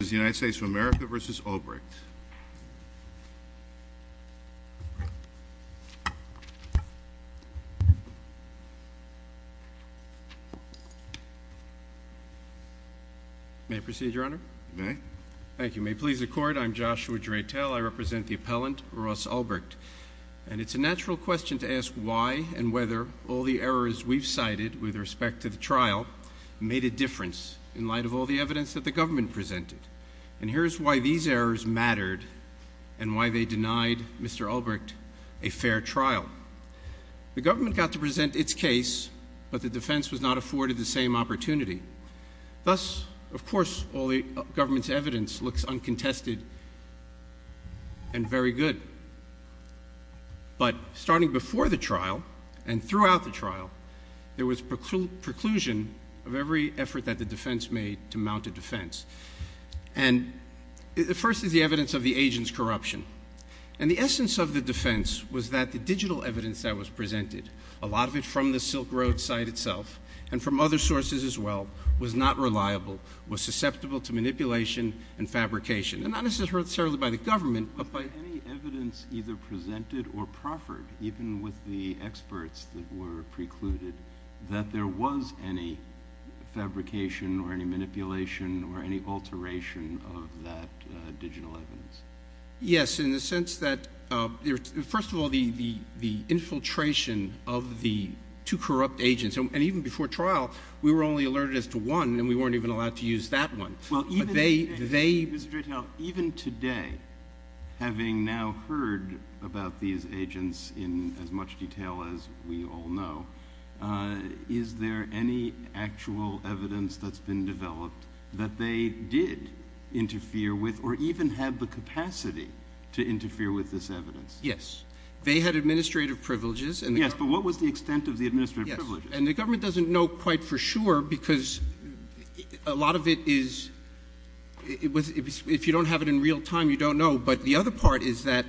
This is the United States of America v. Ulbricht. May I proceed, Your Honor? Thank you. May it please the Court, I'm Joshua Draytel, I represent the appellant Ross Ulbricht. And it's a natural question to ask why and whether the trial made a difference in light of all the evidence that the government presented. And here's why these errors mattered and why they denied Mr. Ulbricht a fair trial. The government got to present its case but the defense was not afforded the same opportunity. Thus, of course, all the government's evidence looks uncontested and very good. But starting before the trial and throughout the trial, there was preclusion of every effort that the defense made to mount a defense. And the first is the evidence of the agent's corruption. And the essence of the defense was that the digital evidence that was presented, a lot of it from the Silk Road site itself, and from other sources as well, was not reliable, was susceptible to manipulation and fabrication. And not necessarily by the government, but by any evidence either presented or proffered, even with the experts that were precluded, that there was any fabrication or any manipulation or any alteration of that digital evidence. Yes, in the sense that, first of all, the infiltration of the two corrupt agents, and even before trial, we were only alerted as to one and we weren't even allowed to use that one. But they... Even today, having now heard about these agents in as much detail as we all know, is there any actual evidence that's been developed that they did interfere with or even have the capacity to interfere with this evidence? Yes. They had administrative privileges. Yes, but what was the extent of the administrative privileges? And the government doesn't know quite for sure because a lot of it is... If you don't have it in real time, you don't know. But the other part is that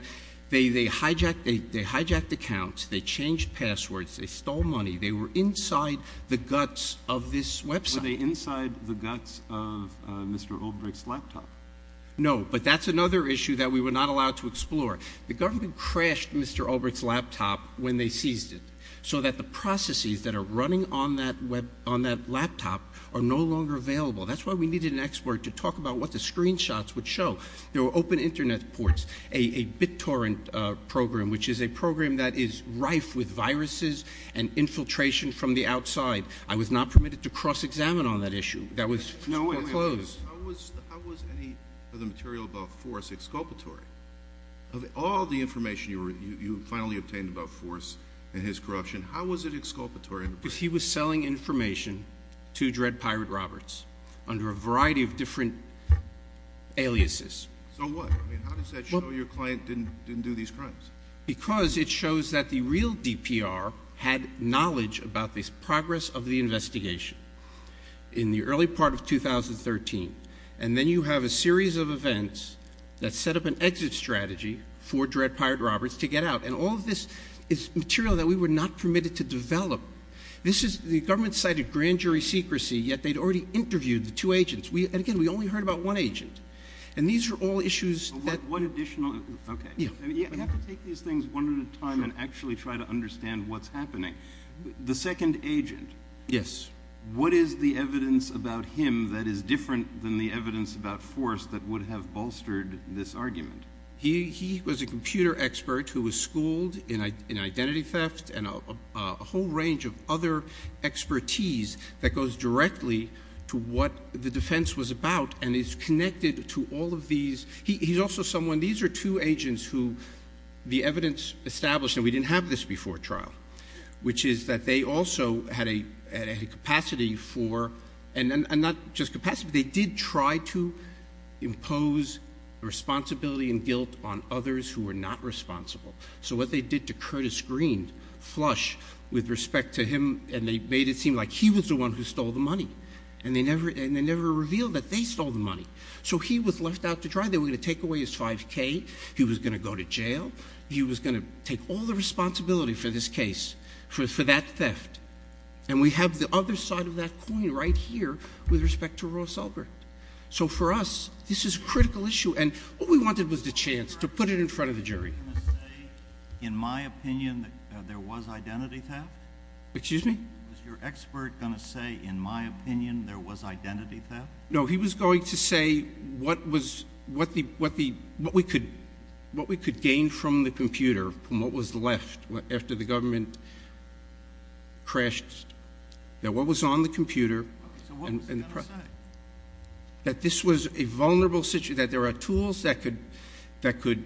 they hijacked accounts, they changed passwords, they stole money. They were inside the guts of this website. Were they inside the guts of Mr. Ulbricht's laptop? No, but that's another issue that we were not allowed to explore. The government crashed Mr. Ulbricht's laptop when they seized it, so that the processes that are running on that laptop are no longer available. That's why we needed an expert to talk about what the screenshots would show. There were open internet ports, a BitTorrent program, which is a program that is rife with viruses and infiltration from the outside. I was not permitted to cross-examine on that issue. That was closed. How was any of the material about Forrest exculpatory? Of all the information you finally obtained about Forrest and his corruption, how was it exculpatory? Because he was selling information to Dred Pirate Roberts under a variety of different aliases. So what? How does that show your client didn't do these crimes? Because it shows that the real DPR had knowledge about this progress of the investigation in the early part of 2013. And then you have a series of events that set up an exit strategy for Dred Pirate Roberts to get out. And all of this is material that we were not permitted to develop. The government cited grand jury secrecy, yet they'd already interviewed the two agents. And again, we only heard about one agent. And these are all issues that... You have to take these things one at a time and actually try to understand what's happening. The second agent, what is the evidence about him that is different than the evidence about Forrest that would have bolstered this argument? He was a computer expert who was schooled in identity theft and a whole range of other expertise that goes directly to what the defense was about and is connected to all of these... He's also someone... These are two agents who the evidence established, and we didn't have this before trial, which is that they also had a capacity for... And not just capacity, they did try to impose responsibility and guilt on others who were not responsible. So what they did to Curtis Green, Flush, with respect to him, and they made it seem like he was the one who stole the money. And they never revealed that they stole the money. So he was left out to dry. They were going to take away his $5,000. He was going to go to jail. He was going to take all the responsibility for this case, for that theft. And we have the other side of that coin right here with respect to Ross Elbert. So for us, this is a critical issue, and what we wanted was the chance to put it in front of the jury. Was your expert going to say, in my opinion, that there was identity theft? Excuse me? Was your expert going to say, in my opinion, there was identity theft? No, he was going to say what we could gain from the computer, from what was left after the government crashed. That what was on the computer... That this was a vulnerable situation, that there are tools that could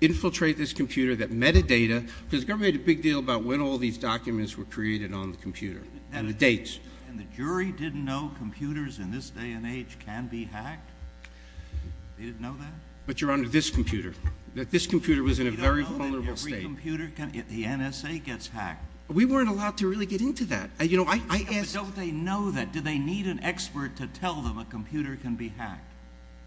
infiltrate this computer, that metadata... Because the government made a big deal about when all these documents were created on the computer, and the dates. And the jury didn't know computers in this day and age can be hacked? They didn't know that? But, Your Honor, this computer. That this computer was in a very vulnerable state. You don't know that every computer, the NSA, gets hacked? We weren't allowed to really get into that. You know, I asked... But don't they know that? Do they need an expert to tell them a computer can be hacked?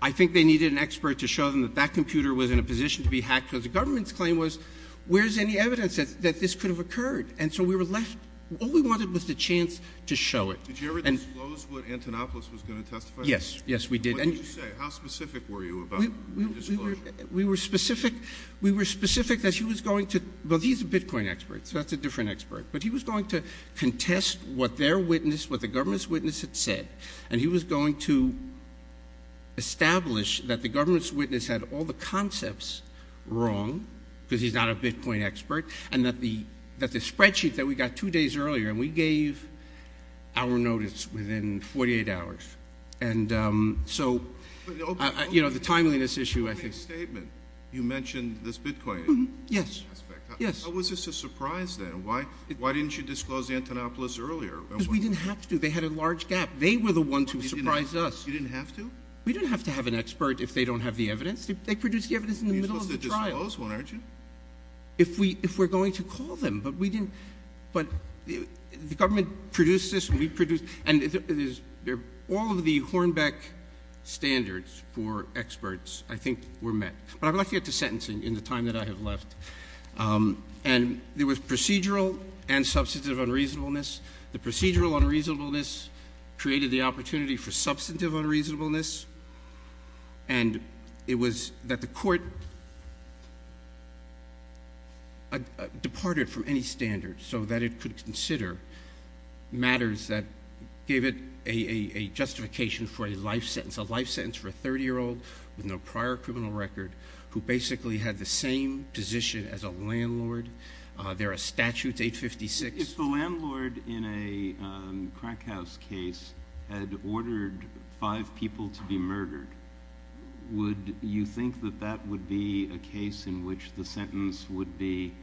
I think they needed an expert to show them that that computer was in a position to be hacked, because the government's claim was, where's any evidence that this could have occurred? And so we were left... All we wanted was the chance to show it. Did you ever disclose what Antonopoulos was going to testify? Yes. Yes, we did. What did you say? How specific were you about the disclosure? We were specific... We were specific that he was going to... Well, he's a Bitcoin expert, so that's a different expert. But he was going to contest what their witness, what the government's witness had said. And he was going to establish that the government's witness had all the concepts wrong, because he's not a Bitcoin expert, and that the spreadsheet that we got two days earlier, and we gave our notice within 48 hours. And so, you know, the timeliness issue, I think... But in your opening statement, you mentioned this Bitcoin aspect. Yes. Yes. How was this a surprise then? Why didn't you disclose Antonopoulos earlier? Because we didn't have to. They had a large gap. They were the ones who surprised us. You didn't have to? We don't have to have an expert if they don't have the evidence. They produced the evidence in the middle of the trial. But you're supposed to disclose one, aren't you? If we're going to call them, but we didn't... But the government produced this, and we produced... And all of the Hornbeck standards for experts, I think, were met. But I'd like to get to sentencing in the time that I have left. And there was procedural and substantive unreasonableness. The procedural unreasonableness created the opportunity for substantive unreasonableness. And it was that the court departed from any standards so that it could consider matters that gave it a justification for a life sentence, a life sentence for a 30-year-old with no prior criminal record who basically had the same position as a landlord. There are statutes, 856. If the landlord in a crack house case had ordered five people to be murdered, would you think that that would be a case in which the sentence would be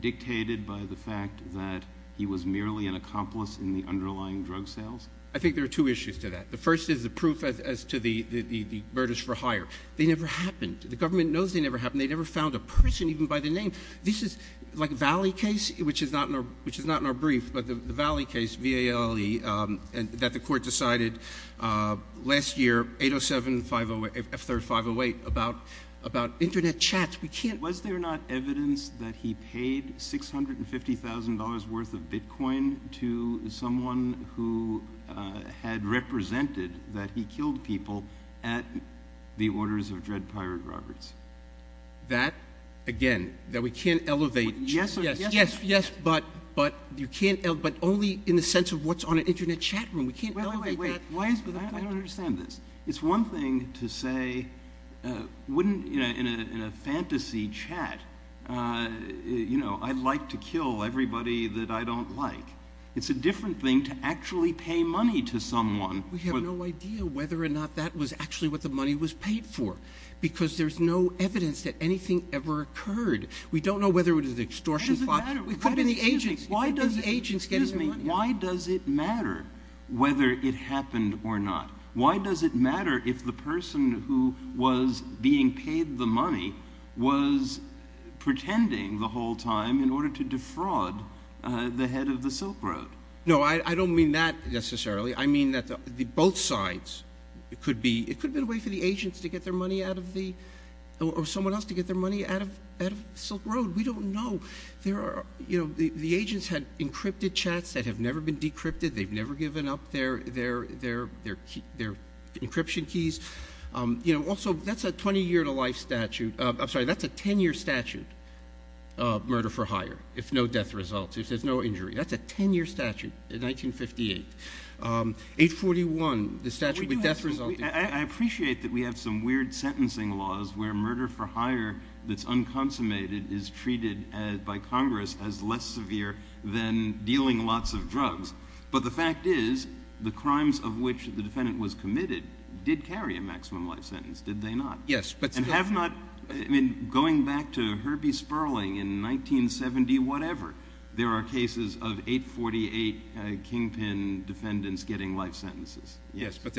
dictated by the fact that he was merely an accomplice in the underlying drug sales? I think there are two issues to that. The first is the proof as to the murders for hire. They never happened. The government knows they never happened. They never found a person even by the name. This is like a Valley case, which is not in our brief, but the Valley case, V-A-L-L-E, that the court decided last year, 807-508, F-3-508, about internet chats. We can't... Was there not evidence that he paid $650,000 worth of Bitcoin to someone who had represented that he killed people at the orders of Dread Pirate Roberts? That, again, that we can't elevate... Yes, yes, yes, yes, but only in the sense of what's on an internet chat room. We can't elevate that. Wait, wait, wait, I don't understand this. It's one thing to say, in a fantasy chat, I'd like to kill everybody that I don't like. It's a different thing to actually pay money to someone. We have no idea whether or not that was actually what the money was paid for because there's no evidence that anything ever occurred. We don't know whether it was an extortion plot. Why does it matter? It could have been the agents. It could have been the agents getting the money. Why does it matter whether it happened or not? Why does it matter if the person who was being paid the money was pretending the whole time in order to defraud the head of the Silk Road? No, I don't mean that, necessarily. I mean that both sides, it could have been a way for the agents to get their money out of the, or someone else to get their money out of Silk Road. We don't know. The agents had encrypted chats that have never been decrypted. They've never given up their encryption keys. Also, that's a 20-year-to-life statute. I'm sorry, that's a 10-year statute, murder for hire, if no death results, if there's no injury. That's a 10-year statute, 1958. 841, the statute with death results. I appreciate that we have some weird sentencing laws where murder for hire that's unconsummated is treated by Congress as less severe than dealing lots of drugs, but the fact is, the crimes of which the defendant was committed did carry a maximum life sentence, did they not? Yes, but- And have not, I mean, going back to Herbie Sperling in 1970, whatever, there are cases of 848 kingpin defendants getting life sentences. Yes, but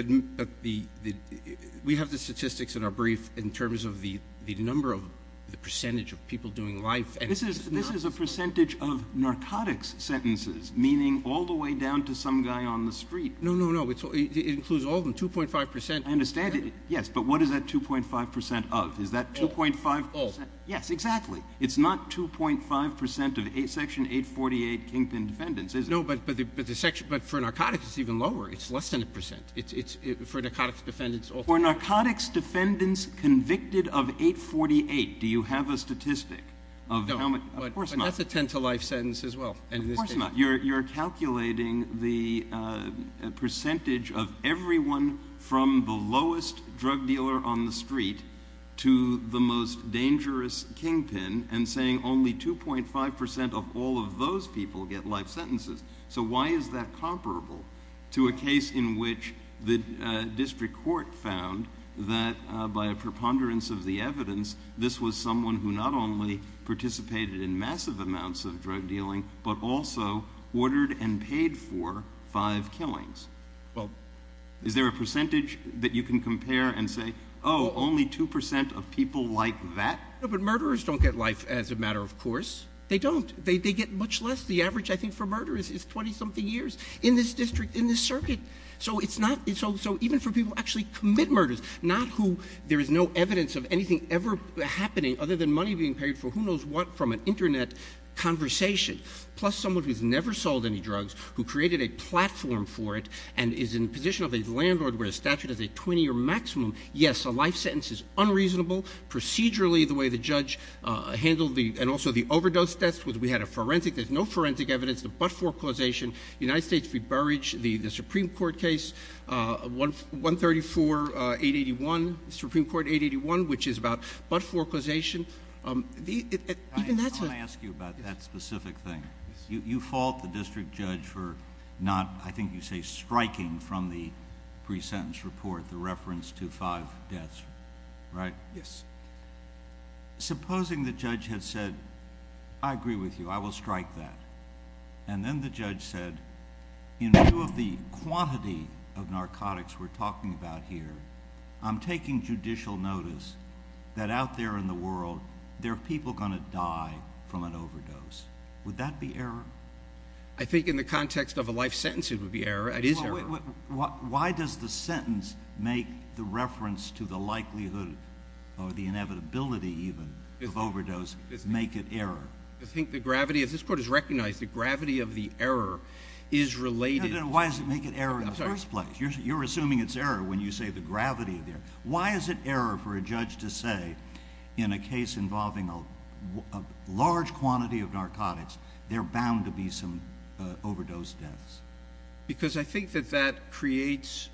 we have the statistics in our brief in terms of the number of the percentage of people doing life sentences. This is a percentage of narcotics sentences, meaning all the way down to some guy on the street. No, no, no, it includes all of them, 2.5%. I understand it, yes, but what is that 2.5% of? Is that 2.5%? All, all. Yes, exactly. It's not 2.5% of Section 848 kingpin defendants, is it? No, but for narcotics, it's even lower. It's less than a percent. It's, it's, for narcotics defendants, all- For narcotics defendants convicted of 848, do you have a statistic of how many, of course not. No, but that's a 10 to life sentence as well, and in this case- Of course not, you're, you're calculating the percentage of everyone from the lowest drug dealer on the street to the most dangerous kingpin and saying only 2.5% of all of those people get life sentences, so why is that comparable to a case in which the district court found that by a preponderance of the evidence, this was someone who not only participated in massive amounts of drug dealing, but also ordered and paid for five killings? Well- Is there a percentage that you can compare and say, oh, only 2% of people like that? No, but murderers don't get life as a matter of course. They don't, they, they get much less. The average, I think, for murderers is 20-something years. In this district, in this circuit, so it's not, so even for people who actually commit murders, not who, there is no evidence of anything ever happening other than money being paid for who knows what from an internet conversation, plus someone who's never sold any drugs, who created a platform for it, and is in a position of a landlord where a statute is a 20 or maximum, yes, a life sentence is unreasonable. Procedurally, the way the judge handled the, and also the overdose test, was we had a forensic, there's no forensic evidence, the but-for causation, United States v. Burrage, the Supreme Court case, 134-881, Supreme Court 881, which is about but-for causation. Even that's a- I wanna ask you about that specific thing. You fault the district judge for not, I think you say, striking from the pre-sentence report, the reference to five deaths, right? Yes. Supposing the judge had said, I agree with you, I will strike that. And then the judge said, in view of the quantity of narcotics we're talking about here, I'm taking judicial notice that out there in the world, there are people gonna die from an overdose. Would that be error? I think in the context of a life sentence, it would be error, it is error. Why does the sentence make the reference to the likelihood, or the inevitability even, of overdose make it error? I think the gravity, as this court has recognized, the gravity of the error is related- Why does it make it error in the first place? You're assuming it's error when you say the gravity of the error. Why is it error for a judge to say, in a case involving a large quantity of narcotics, there are bound to be some overdose deaths? Because I think that that creates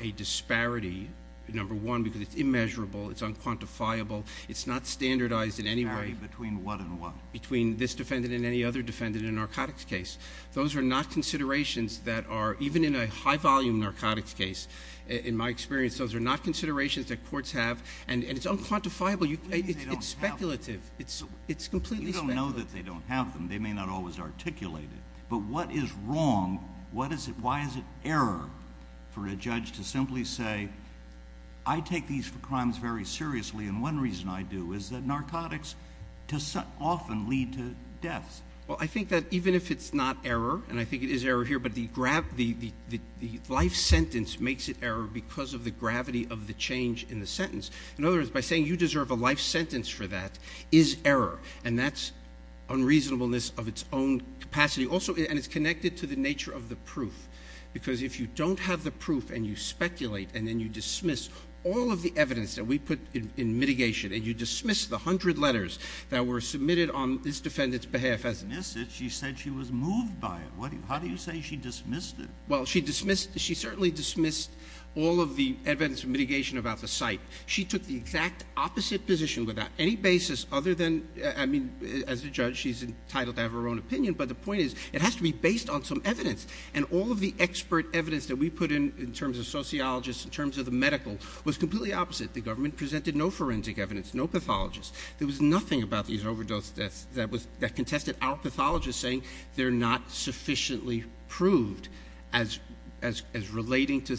a disparity, number one, because it's immeasurable, it's unquantifiable, it's not standardized in any way- Disparity between what and what? Between this defendant and any other defendant in a narcotics case. Those are not considerations that are, even in a high-volume narcotics case, in my experience, those are not considerations that courts have, and it's unquantifiable, it's speculative. It's completely speculative. You don't know that they don't have them. They may not always articulate it. But what is wrong, why is it error for a judge to simply say, I take these crimes very seriously, and one reason I do is that narcotics often lead to deaths? Well, I think that even if it's not error, and I think it is error here, but the life sentence makes it error because of the gravity of the change in the sentence. In other words, by saying you deserve a life sentence for that is error, and that's unreasonableness of its own capacity. Also, and it's connected to the nature of the proof, because if you don't have the proof and you speculate and then you dismiss all of the evidence that we put in mitigation, and you dismiss the 100 letters that were submitted on this defendant's behalf as it is, she said she was moved by it. How do you say she dismissed it? Well, she dismissed, she certainly dismissed all of the evidence of mitigation about the site. She took the exact opposite position without any basis other than, I mean, as a judge, she's entitled to have her own opinion, but the point is, it has to be based on some evidence, and all of the expert evidence that we put in in terms of sociologists, in terms of the medical, was completely opposite. The government presented no forensic evidence, no pathologists. There was nothing about these overdose deaths that contested our pathologists saying they're not sufficiently proved as relating to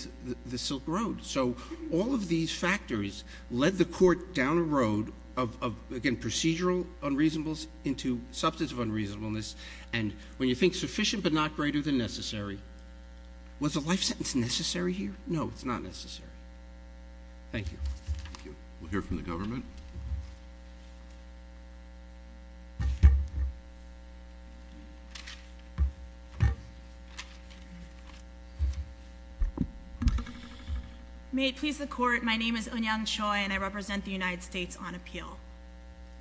the Silk Road. So all of these factors led the court down a road of, again, procedural unreasonableness into substantive unreasonableness, and when you think sufficient but not greater than necessary, was a life sentence necessary here? No, it's not necessary. Thank you. We'll hear from the government. May it please the court, my name is Eunyoung Choi, and I represent the United States on appeal.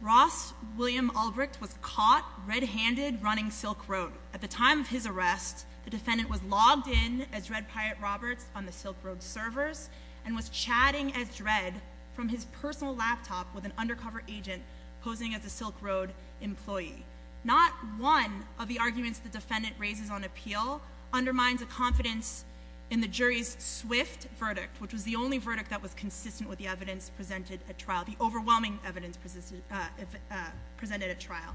Ross William Albrecht was caught red-handed running Silk Road. At the time of his arrest, the defendant was logged in as Red Pirate Roberts on the Silk Road servers, and was chatting as Dredd from his personal laptop with an undercover agent posing as a Silk Road employee. Not one of the arguments the defendant raises on appeal undermines a confidence in the jury's swift verdict, which was the only verdict that was consistent with the evidence presented at trial, the overwhelming evidence presented at trial,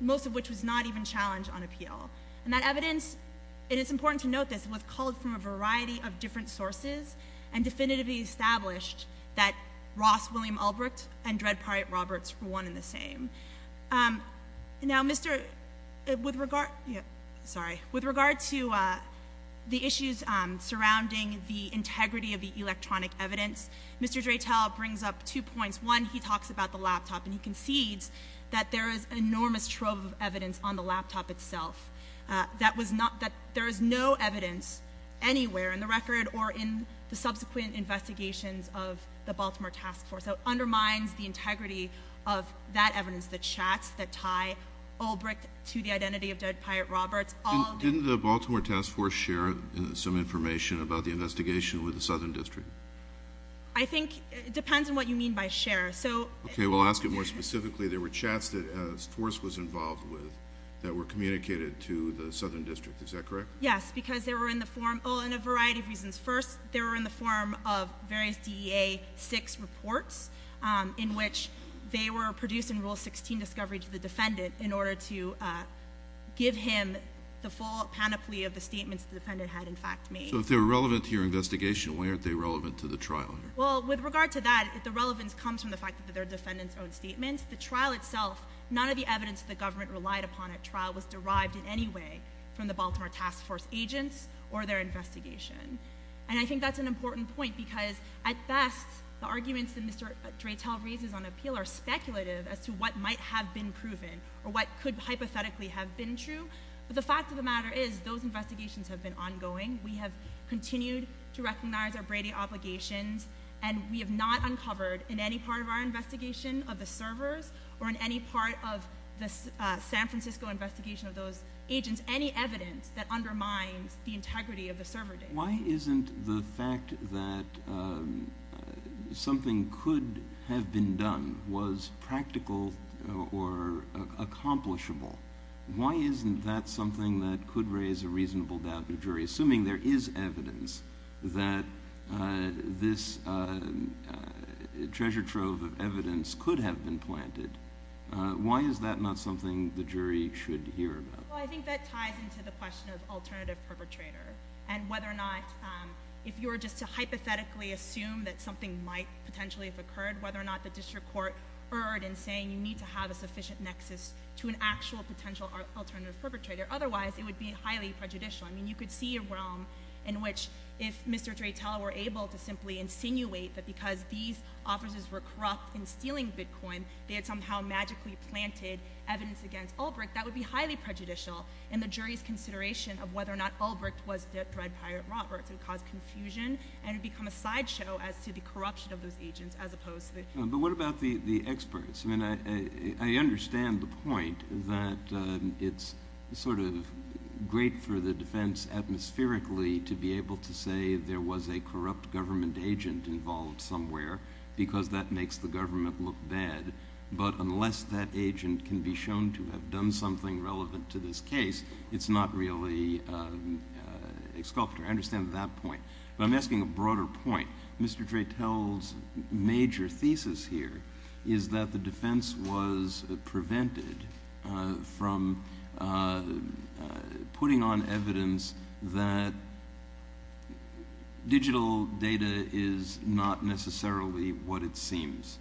most of which was not even challenged on appeal. And that evidence, and it's important to note this, was called from a variety of different sources, and definitively established that Ross William Albrecht and Dredd Pirate Roberts were one and the same. Now, Mr., with regard, sorry, with regard to the issues surrounding the integrity of the electronic evidence, Mr. Dreitel brings up two points. One, he talks about the laptop, and he concedes that there is enormous trove of evidence on the laptop itself, that there is no evidence anywhere in the record, or in the subsequent investigations of the Baltimore Task Force. That undermines the integrity of that evidence, the chats that tie Albrecht to the identity of Dredd Pirate Roberts, all the- Didn't the Baltimore Task Force share some information about the investigation with the Southern District? I think, it depends on what you mean by share, so- Okay, we'll ask you more specifically. There were chats that a force was involved with that were communicated to the Southern District, is that correct? Yes, because they were in the form, oh, in a variety of reasons. First, they were in the form of various DEA-6 reports, in which they were produced in Rule 16 discovery to the defendant, in order to give him the full panoply of the statements the defendant had, in fact, made. So, if they were relevant to your investigation, why aren't they relevant to the trial? Well, with regard to that, the relevance comes from the fact that they're defendant's own statements. The trial itself, none of the evidence the government relied upon at trial was derived in any way from the Baltimore Task Force agents or their investigation, and I think that's an important point, because, at best, the arguments that Mr. Dreitel raises on appeal are speculative as to what might have been proven, or what could hypothetically have been true, but the fact of the matter is, those investigations have been ongoing. We have continued to recognize our Brady obligations, and we have not uncovered, in any part of our investigation of the servers, or in any part of the San Francisco investigation of those agents, any evidence that undermines the integrity of the server data. Why isn't the fact that something could have been done was practical or accomplishable? Why isn't that something that could raise a reasonable doubt in a jury, assuming there is evidence that this treasure trove of evidence could have been planted? Why is that not something the jury should hear about? Well, I think that ties into the question of alternative perpetrator, and whether or not, if you were just to hypothetically assume that something might potentially have occurred, whether or not the district court erred in saying you need to have a sufficient nexus to an actual potential alternative perpetrator. Otherwise, it would be highly prejudicial. I mean, you could see a realm in which, if Mr. Dreitel were able to simply insinuate that because these officers were corrupt in stealing Bitcoin, they had somehow magically planted evidence against Ulbricht, that would be highly prejudicial in the jury's consideration of whether or not Ulbricht was the Thread Pirate Roberts. It would cause confusion, and it would become a sideshow as to the corruption of those agents, as opposed to the. But what about the experts? I mean, I understand the point that it's sort of great for the defense, atmospherically, to be able to say there was a corrupt government agent involved somewhere, because that makes the government look bad. But unless that agent can be shown to have done something relevant to this case, it's not really a sculptor. I understand that point. But I'm asking a broader point. Mr. Dreitel's major thesis here is that the defense was prevented from putting on evidence that digital data is not necessarily what it seems.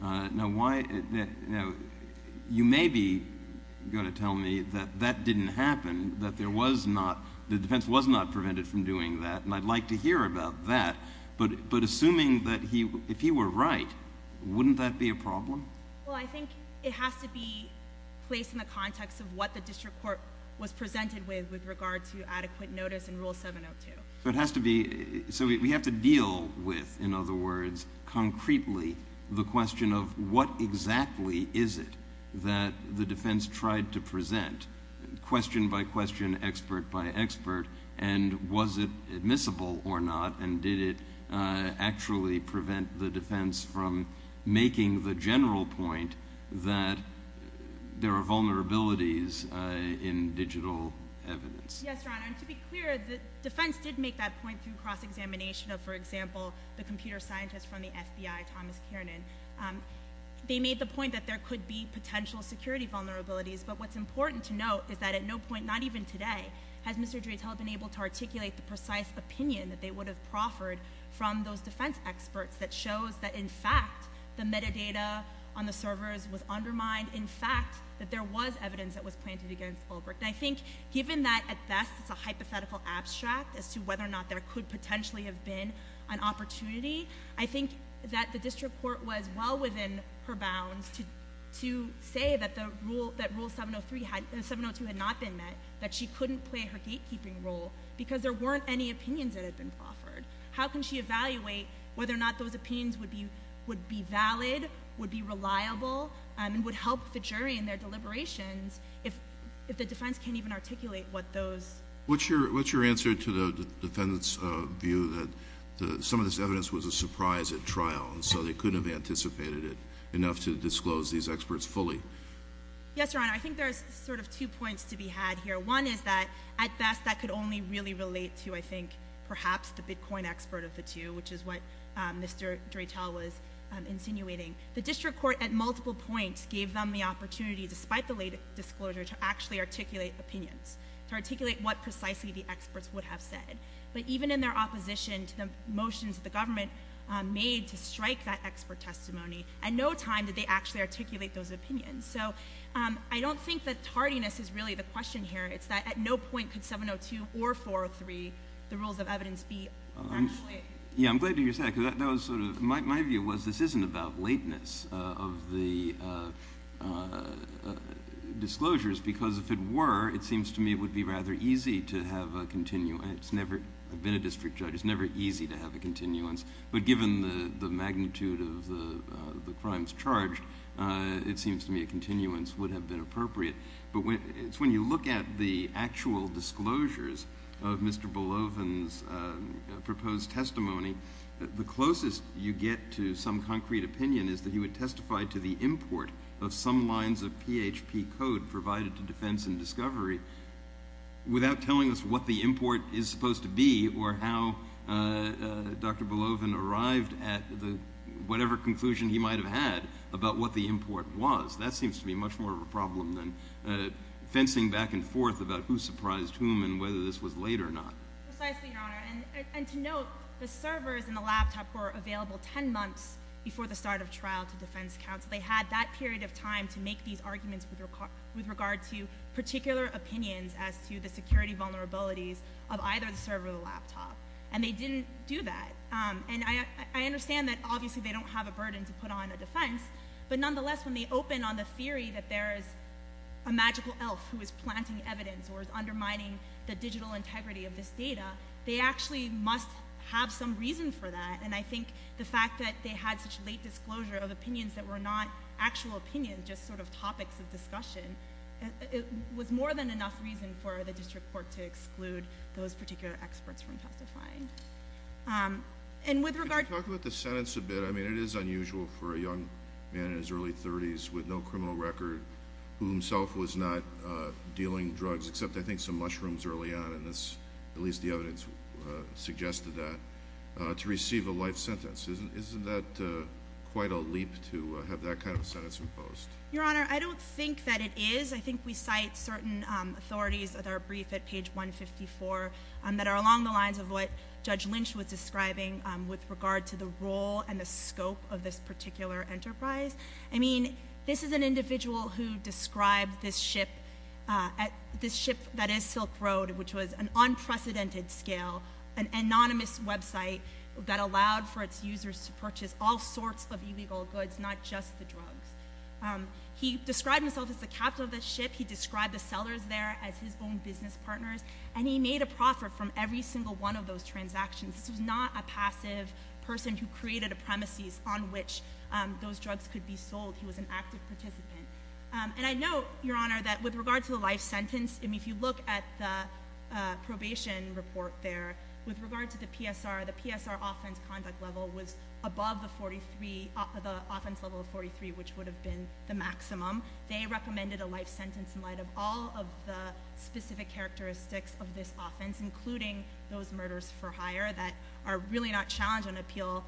Now, you may be gonna tell me that that didn't happen, that the defense was not prevented from doing that, and I'd like to hear about that. But assuming that if he were right, wouldn't that be a problem? Well, I think it has to be placed in the context of what the district court was presented with, with regard to adequate notice in Rule 702. So it has to be, so we have to deal with, in other words, concretely the question of what exactly is it that the defense tried to present, question by question, expert by expert, and was it admissible or not, and did it actually prevent the defense from making the general point that there are vulnerabilities in digital evidence? Yes, Your Honor, and to be clear, the defense did make that point through cross-examination of, for example, the computer scientist from the FBI, Thomas Kiernan. They made the point that there could be potential security vulnerabilities, but what's important to note is that at no point, not even today, has Mr. Dreitel been able to articulate the precise opinion that they would have proffered from those defense experts that shows that, in fact, the metadata on the servers was undermined, in fact, that there was evidence that was planted against Ulbricht. And I think, given that, at best, it's a hypothetical abstract as to whether or not there could potentially have been an opportunity, I think that the district court was well within her bounds to say that Rule 702 had not been met, that she couldn't play her gatekeeping role because there weren't any opinions that had been proffered. How can she evaluate whether or not those opinions would be valid, would be reliable, and would help the jury in their deliberations if the defense can't even articulate what those. What's your answer to the defendant's view that some of this evidence was a surprise at trial, and so they couldn't have anticipated it enough to disclose these experts fully? Yes, Your Honor, I think there's sort of two points to be had here. One is that, at best, that could only really relate to, I think, perhaps the Bitcoin expert of the two, which is what Mr. Dreitel was insinuating. The district court, at multiple points, gave them the opportunity, despite the late disclosure, to actually articulate opinions, to articulate what precisely the experts would have said. But even in their opposition to the motions the government made to strike that expert testimony, at no time did they actually articulate those opinions. So I don't think that tardiness is really the question here. It's that at no point could 702 or 403, the rules of evidence, be actually. Yeah, I'm glad you said it, my view was this isn't about lateness of the disclosures, because if it were, it seems to me it would be rather easy to have a, I've been a district judge, it's never easy to have a continuance. But given the magnitude of the crimes charged, it seems to me a continuance would have been appropriate. But it's when you look at the actual disclosures of Mr. Belovin's proposed testimony, the closest you get to some concrete opinion is that he would testify to the import of some lines of PHP code provided to Defense and Discovery without telling us what the import is supposed to be or how Dr. Belovin arrived at whatever conclusion he might have had about what the import was. That seems to be much more of a problem than fencing back and forth about who surprised whom and whether this was late or not. Precisely, Your Honor, and to note, the servers in the laptop were available 10 months before the start of trial to Defense counsel. They had that period of time to make these arguments with regard to particular opinions as to the security vulnerabilities of either the server or the laptop, and they didn't do that. And I understand that obviously they don't have a burden to put on a defense, but nonetheless, when they open on the theory that there is a magical elf who is planting evidence or is undermining the digital integrity of this data, they actually must have some reason for that. And I think the fact that they had such late disclosure of opinions that were not actual opinions, just sort of topics of discussion, it was more than enough reason for the district court to exclude those particular experts from testifying. And with regard to- Can you talk about the sentence a bit? I mean, it is unusual for a young man in his early 30s with no criminal record who himself was not dealing drugs, except I think some mushrooms early on, and this, at least the evidence suggested that, to receive a life sentence. Isn't that quite a leap to have that kind of sentence imposed? Your Honor, I don't think that it is. I think we cite certain authorities that are briefed at page 154 that are along the lines of what Judge Lynch was describing with regard to the role and the scope of this particular enterprise. I mean, this is an individual who described this ship, this ship that is Silk Road, which was an unprecedented scale, an anonymous website that allowed for its users to purchase all sorts of illegal goods, not just the drugs. He described himself as the capital of the ship, he described the sellers there as his own business partners, and he made a profit from every single one of those transactions. This was not a passive person who created a premises on which those drugs could be sold. He was an active participant. And I note, Your Honor, that with regard to the life sentence, I mean, if you look at the probation report there, with regard to the PSR, the PSR offense conduct level was above the 43, the offense level of 43, which would have been the maximum. They recommended a life sentence in light of all of the specific characteristics of this offense, including those murders for hire that are really not challenged on appeal,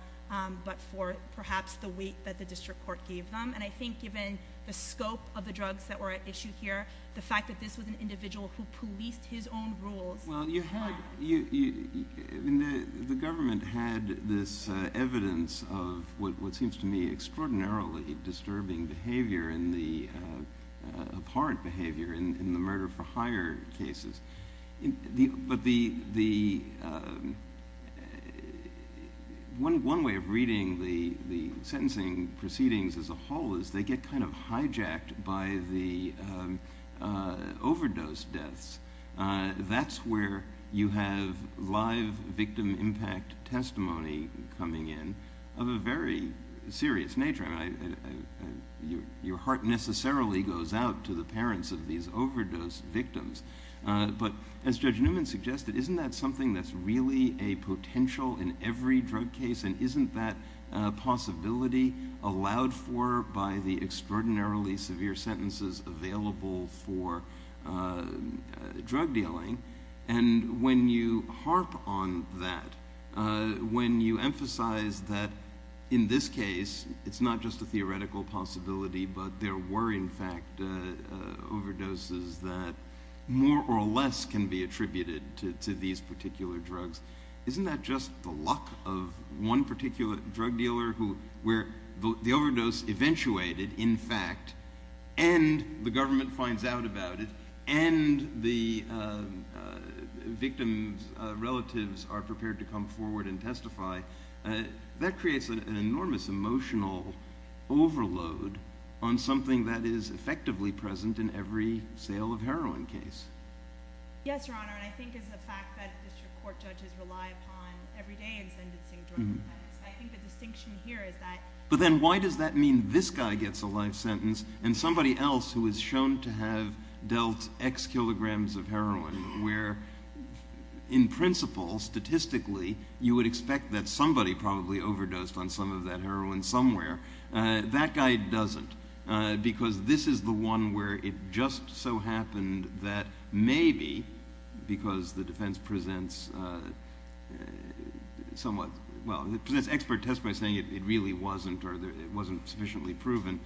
but for perhaps the weight that the district court gave them. And I think given the scope of the drugs that were at issue here, the fact that this was an individual who policed his own rules. Well, you had, the government had this evidence of what seems to me extraordinarily disturbing behavior in the, abhorrent behavior in the murder for hire cases. But the, one way of reading the sentencing proceedings as a whole is they get kind of hijacked by the overdose deaths. That's where you have live victim impact testimony coming in of a very serious nature. I mean, your heart necessarily goes out to the parents of these overdose victims. But as Judge Newman suggested, isn't that something that's really a potential in every drug case? And isn't that a possibility allowed for by the extraordinarily severe sentences available for drug dealing? And when you harp on that, when you emphasize that in this case, it's not just a theoretical possibility, but there were in fact overdoses that more or less can be attributed to these particular drugs. Isn't that just the luck of one particular drug dealer who, where the overdose eventuated in fact, and the government finds out about it, and the victim's relatives are prepared to come forward and testify, that creates an enormous emotional overload on something that is effectively present in every sale of heroin case. Yes, Your Honor, and I think it's a fact that district court judges rely upon every day in sentencing drug defendants. I think the distinction here is that. But then why does that mean this guy gets a life sentence, and somebody else who is shown to have dealt X kilograms of heroin, where in principle, statistically, you would expect that somebody probably overdosed on some of that heroin somewhere. That guy doesn't, because this is the one where it just so happened that maybe, because the defense presents somewhat, well, it presents expert test by saying it really wasn't, or it wasn't sufficiently proven.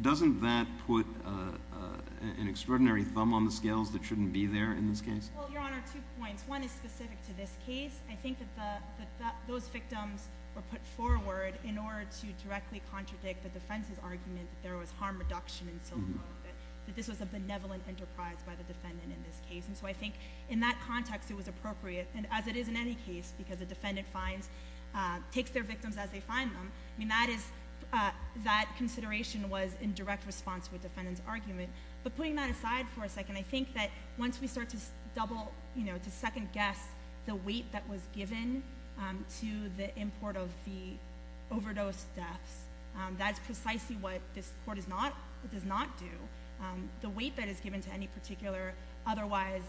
Doesn't that put an extraordinary thumb on the scales that shouldn't be there in this case? Well, Your Honor, two points. One is specific to this case. I think that those victims were put forward in order to directly contradict the defense's argument that there was harm reduction in Silk Road, that this was a benevolent enterprise by the defendant in this case. And so I think in that context, it was appropriate, and as it is in any case, because the defendant finds, takes their victims as they find them. I mean, that is, that consideration was in direct response with defendant's argument. But putting that aside for a second, I think that once we start to double, to second guess the weight that was given to the import of the overdose deaths, that's precisely what this court does not do. The weight that is given to any particular otherwise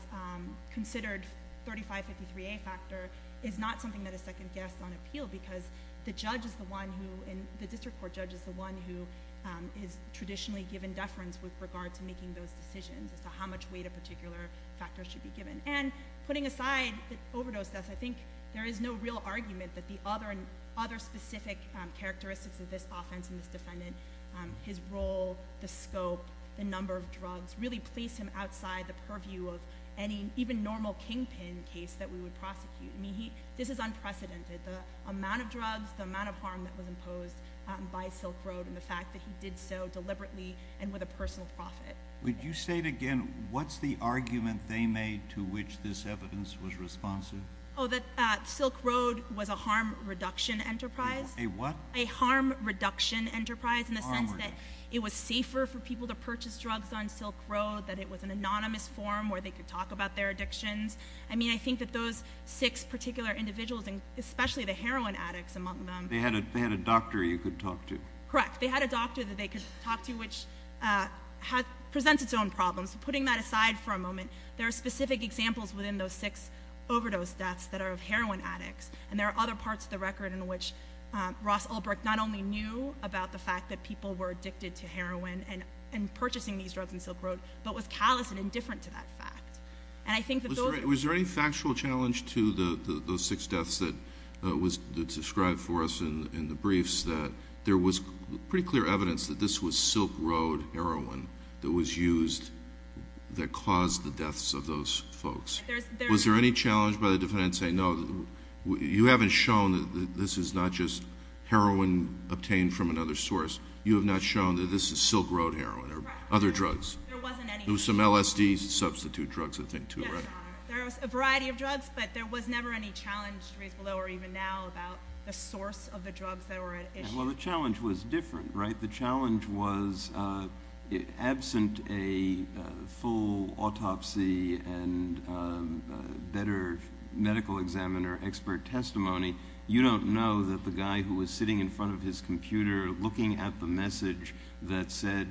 considered 3553A factor is not something that is second guessed on appeal because the judge is the one who, and the district court judge is the one who is traditionally given deference with regard to making those decisions as to how much weight a particular factor should be given. And putting aside the overdose deaths, I think there is no real argument that the other specific characteristics of this offense and this defendant, his role, the scope, the number of drugs, really place him outside the purview of any even normal kingpin case that we would prosecute. I mean, this is unprecedented. The amount of drugs, the amount of harm that was imposed by Silk Road, and the fact that he did so deliberately and with a personal profit. Would you say it again, what's the argument they made to which this evidence was responsive? Oh, that Silk Road was a harm reduction enterprise. A what? A harm reduction enterprise in the sense that it was safer for people to purchase drugs on Silk Road, that it was an anonymous forum where they could talk about their addictions. I mean, I think that those six particular individuals, and especially the heroin addicts among them. They had a doctor you could talk to. Correct, they had a doctor that they could talk to which presents its own problems. Putting that aside for a moment, there are specific examples within those six overdose deaths that are of heroin addicts. And there are other parts of the record in which Ross Ulbrich not only knew about the fact that people were addicted to heroin and purchasing these drugs on Silk Road, but was callous and indifferent to that fact. And I think that those- Was there any factual challenge to those six deaths that was described for us in the briefs that there was pretty clear evidence that this was Silk Road heroin that was used that caused the deaths of those folks? Was there any challenge by the defendant saying, no, you haven't shown that this is not just heroin obtained from another source. You have not shown that this is Silk Road heroin or other drugs? There wasn't any. There was some LSD substitute drugs, I think, too, right? There was a variety of drugs, but there was never any challenge, reasonable though, or even now about the source of the drugs that were at issue. Well, the challenge was different, right? The challenge was absent a full autopsy and better medical examiner expert testimony, you don't know that the guy who was sitting in front of his computer looking at the message that said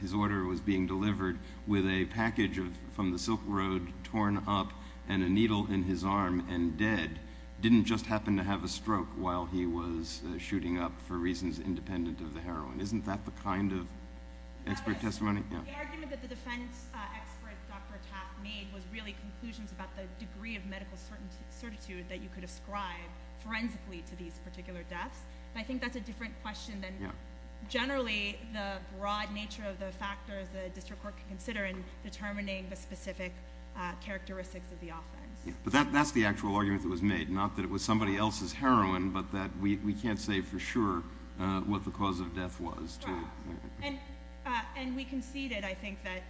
his order was being delivered with a package from the Silk Road torn up and a needle in his arm and dead didn't just happen to have a stroke while he was shooting up for reasons independent of the heroin. Isn't that the kind of expert testimony? The argument that the defense expert, Dr. Taff, made was really conclusions about the degree of medical certitude that you could ascribe forensically to these particular deaths. I think that's a different question than generally the broad nature of the factors the district court can consider in determining the specific characteristics of the offense. But that's the actual argument that was made, not that it was somebody else's heroin, but that we can't say for sure what the cause of death was. Correct. And we conceded, I think, that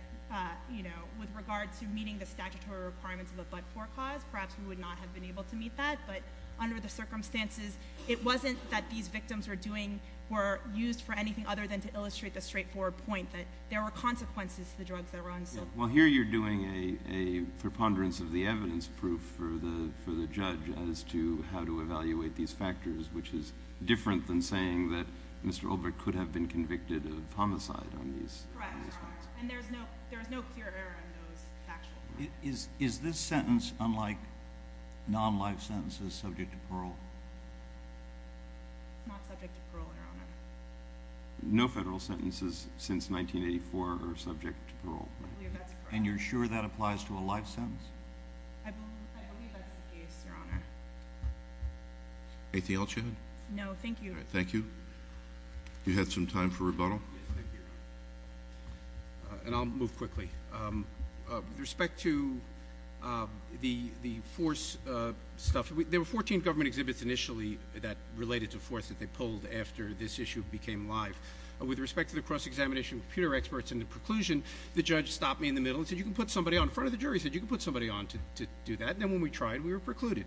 with regard to meeting the statutory requirements of a but-for cause, perhaps we would not have been able to meet that, but under the circumstances, it wasn't that these victims were used for anything other than to illustrate the straightforward point that there were consequences to the drugs that were on Silk. Well, here you're doing a preponderance of the evidence proof for the judge as to how to evaluate these factors, which is different than saying that Mr. Ulbricht could have been convicted of homicide on these crimes. Correct. And there's no clear error in those actual facts. Is this sentence, unlike non-life sentences, subject to parole? Not subject to parole, Your Honor. No federal sentences since 1984 are subject to parole. I believe that's correct. And you're sure that applies to a life sentence? I believe that's the case, Your Honor. Anything else you had? No, thank you. All right, thank you. You had some time for rebuttal? Yes, thank you, Your Honor. And I'll move quickly. With respect to the force stuff, there were 14 government exhibits initially that related to force that they pulled after this issue became live. With respect to the cross-examination with peer experts and the preclusion, the judge stopped me in the middle and said, you can put somebody on in front of the jury, he said, you can put somebody on to do that. And then when we tried, we were precluded.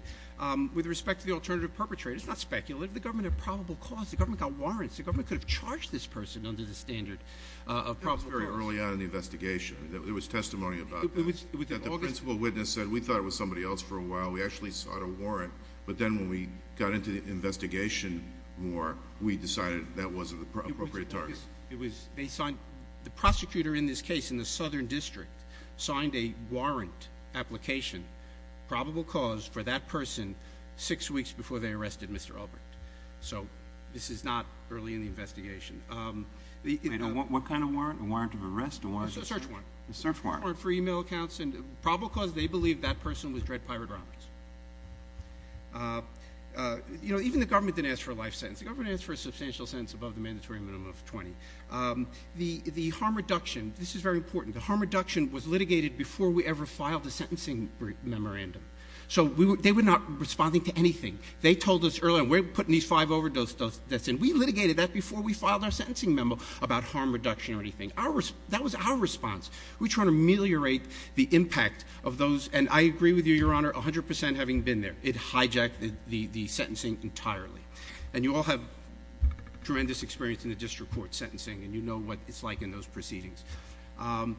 With respect to the alternative perpetrator, it's not speculative, the government had probable cause, the government got warrants, the government could have charged this person under the standard of probable cause. That was very early on in the investigation. There was testimony about that. It was. That the principal witness said, we thought it was somebody else for a while, we actually sought a warrant, but then when we got into the investigation more, we decided that wasn't the appropriate target. It was, they signed, the prosecutor in this case, in the Southern District, signed a warrant application, probable cause for that person, six weeks before they arrested Mr. Ulbricht. So this is not early in the investigation. What kind of warrant? A warrant of arrest? A warrant of search? It was a search warrant. A search warrant. For email accounts and probable cause, they believe that person was dread pirate robbers. You know, even the government didn't ask for a life sentence. The government asked for a substantial sentence above the mandatory minimum of 20. The harm reduction, this is very important. The harm reduction was litigated before we ever filed a sentencing memorandum. So they were not responding to anything. They told us early on, we're putting these five overdose deaths in. We litigated that before we filed our sentencing memo about harm reduction or anything. That was our response. We're trying to ameliorate the impact of those, and I agree with you, Your Honor, 100% having been there. It hijacked the sentencing entirely. And you all have tremendous experience in the district court sentencing, and you know what it's like in those proceedings. With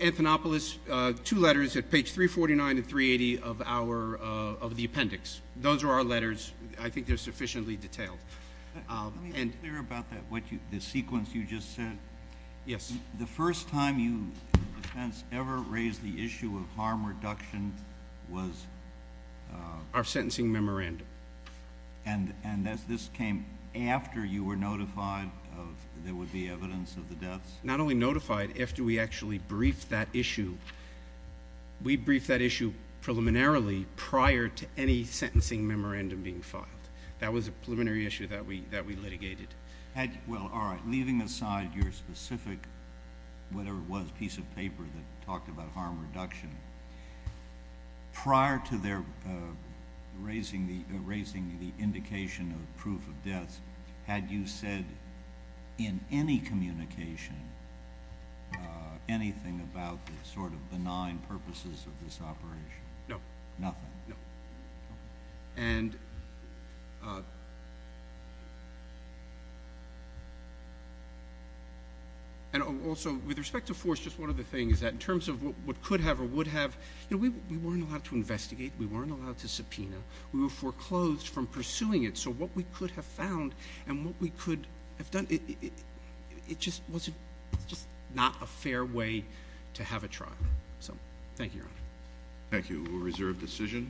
Anthonopoulos, two letters at page 349 and 380 of the appendix. Those are our letters. I think they're sufficiently detailed. Let me be clear about the sequence you just said. Yes. The first time you, in defense, ever raised the issue of harm reduction was? Our sentencing memorandum. And this came after you were notified of there would be evidence of the deaths? Not only notified, after we actually briefed that issue. We briefed that issue preliminarily prior to any sentencing memorandum being filed. That was a preliminary issue that we litigated. Well, all right, leaving aside your specific, whatever it was, piece of paper that talked about harm reduction, prior to their raising the indication of proof of deaths, had you said in any communication anything about the sort of benign purposes of this operation? No. Nothing? No. And... just one of the things is that in terms of what could have or would have, you know, we weren't allowed to investigate. We weren't allowed to subpoena. We were foreclosed from pursuing it. So what we could have found and what we could have done, it just wasn't, it's just not a fair way to have a trial. So, thank you, Your Honor. Thank you. We'll reserve decision.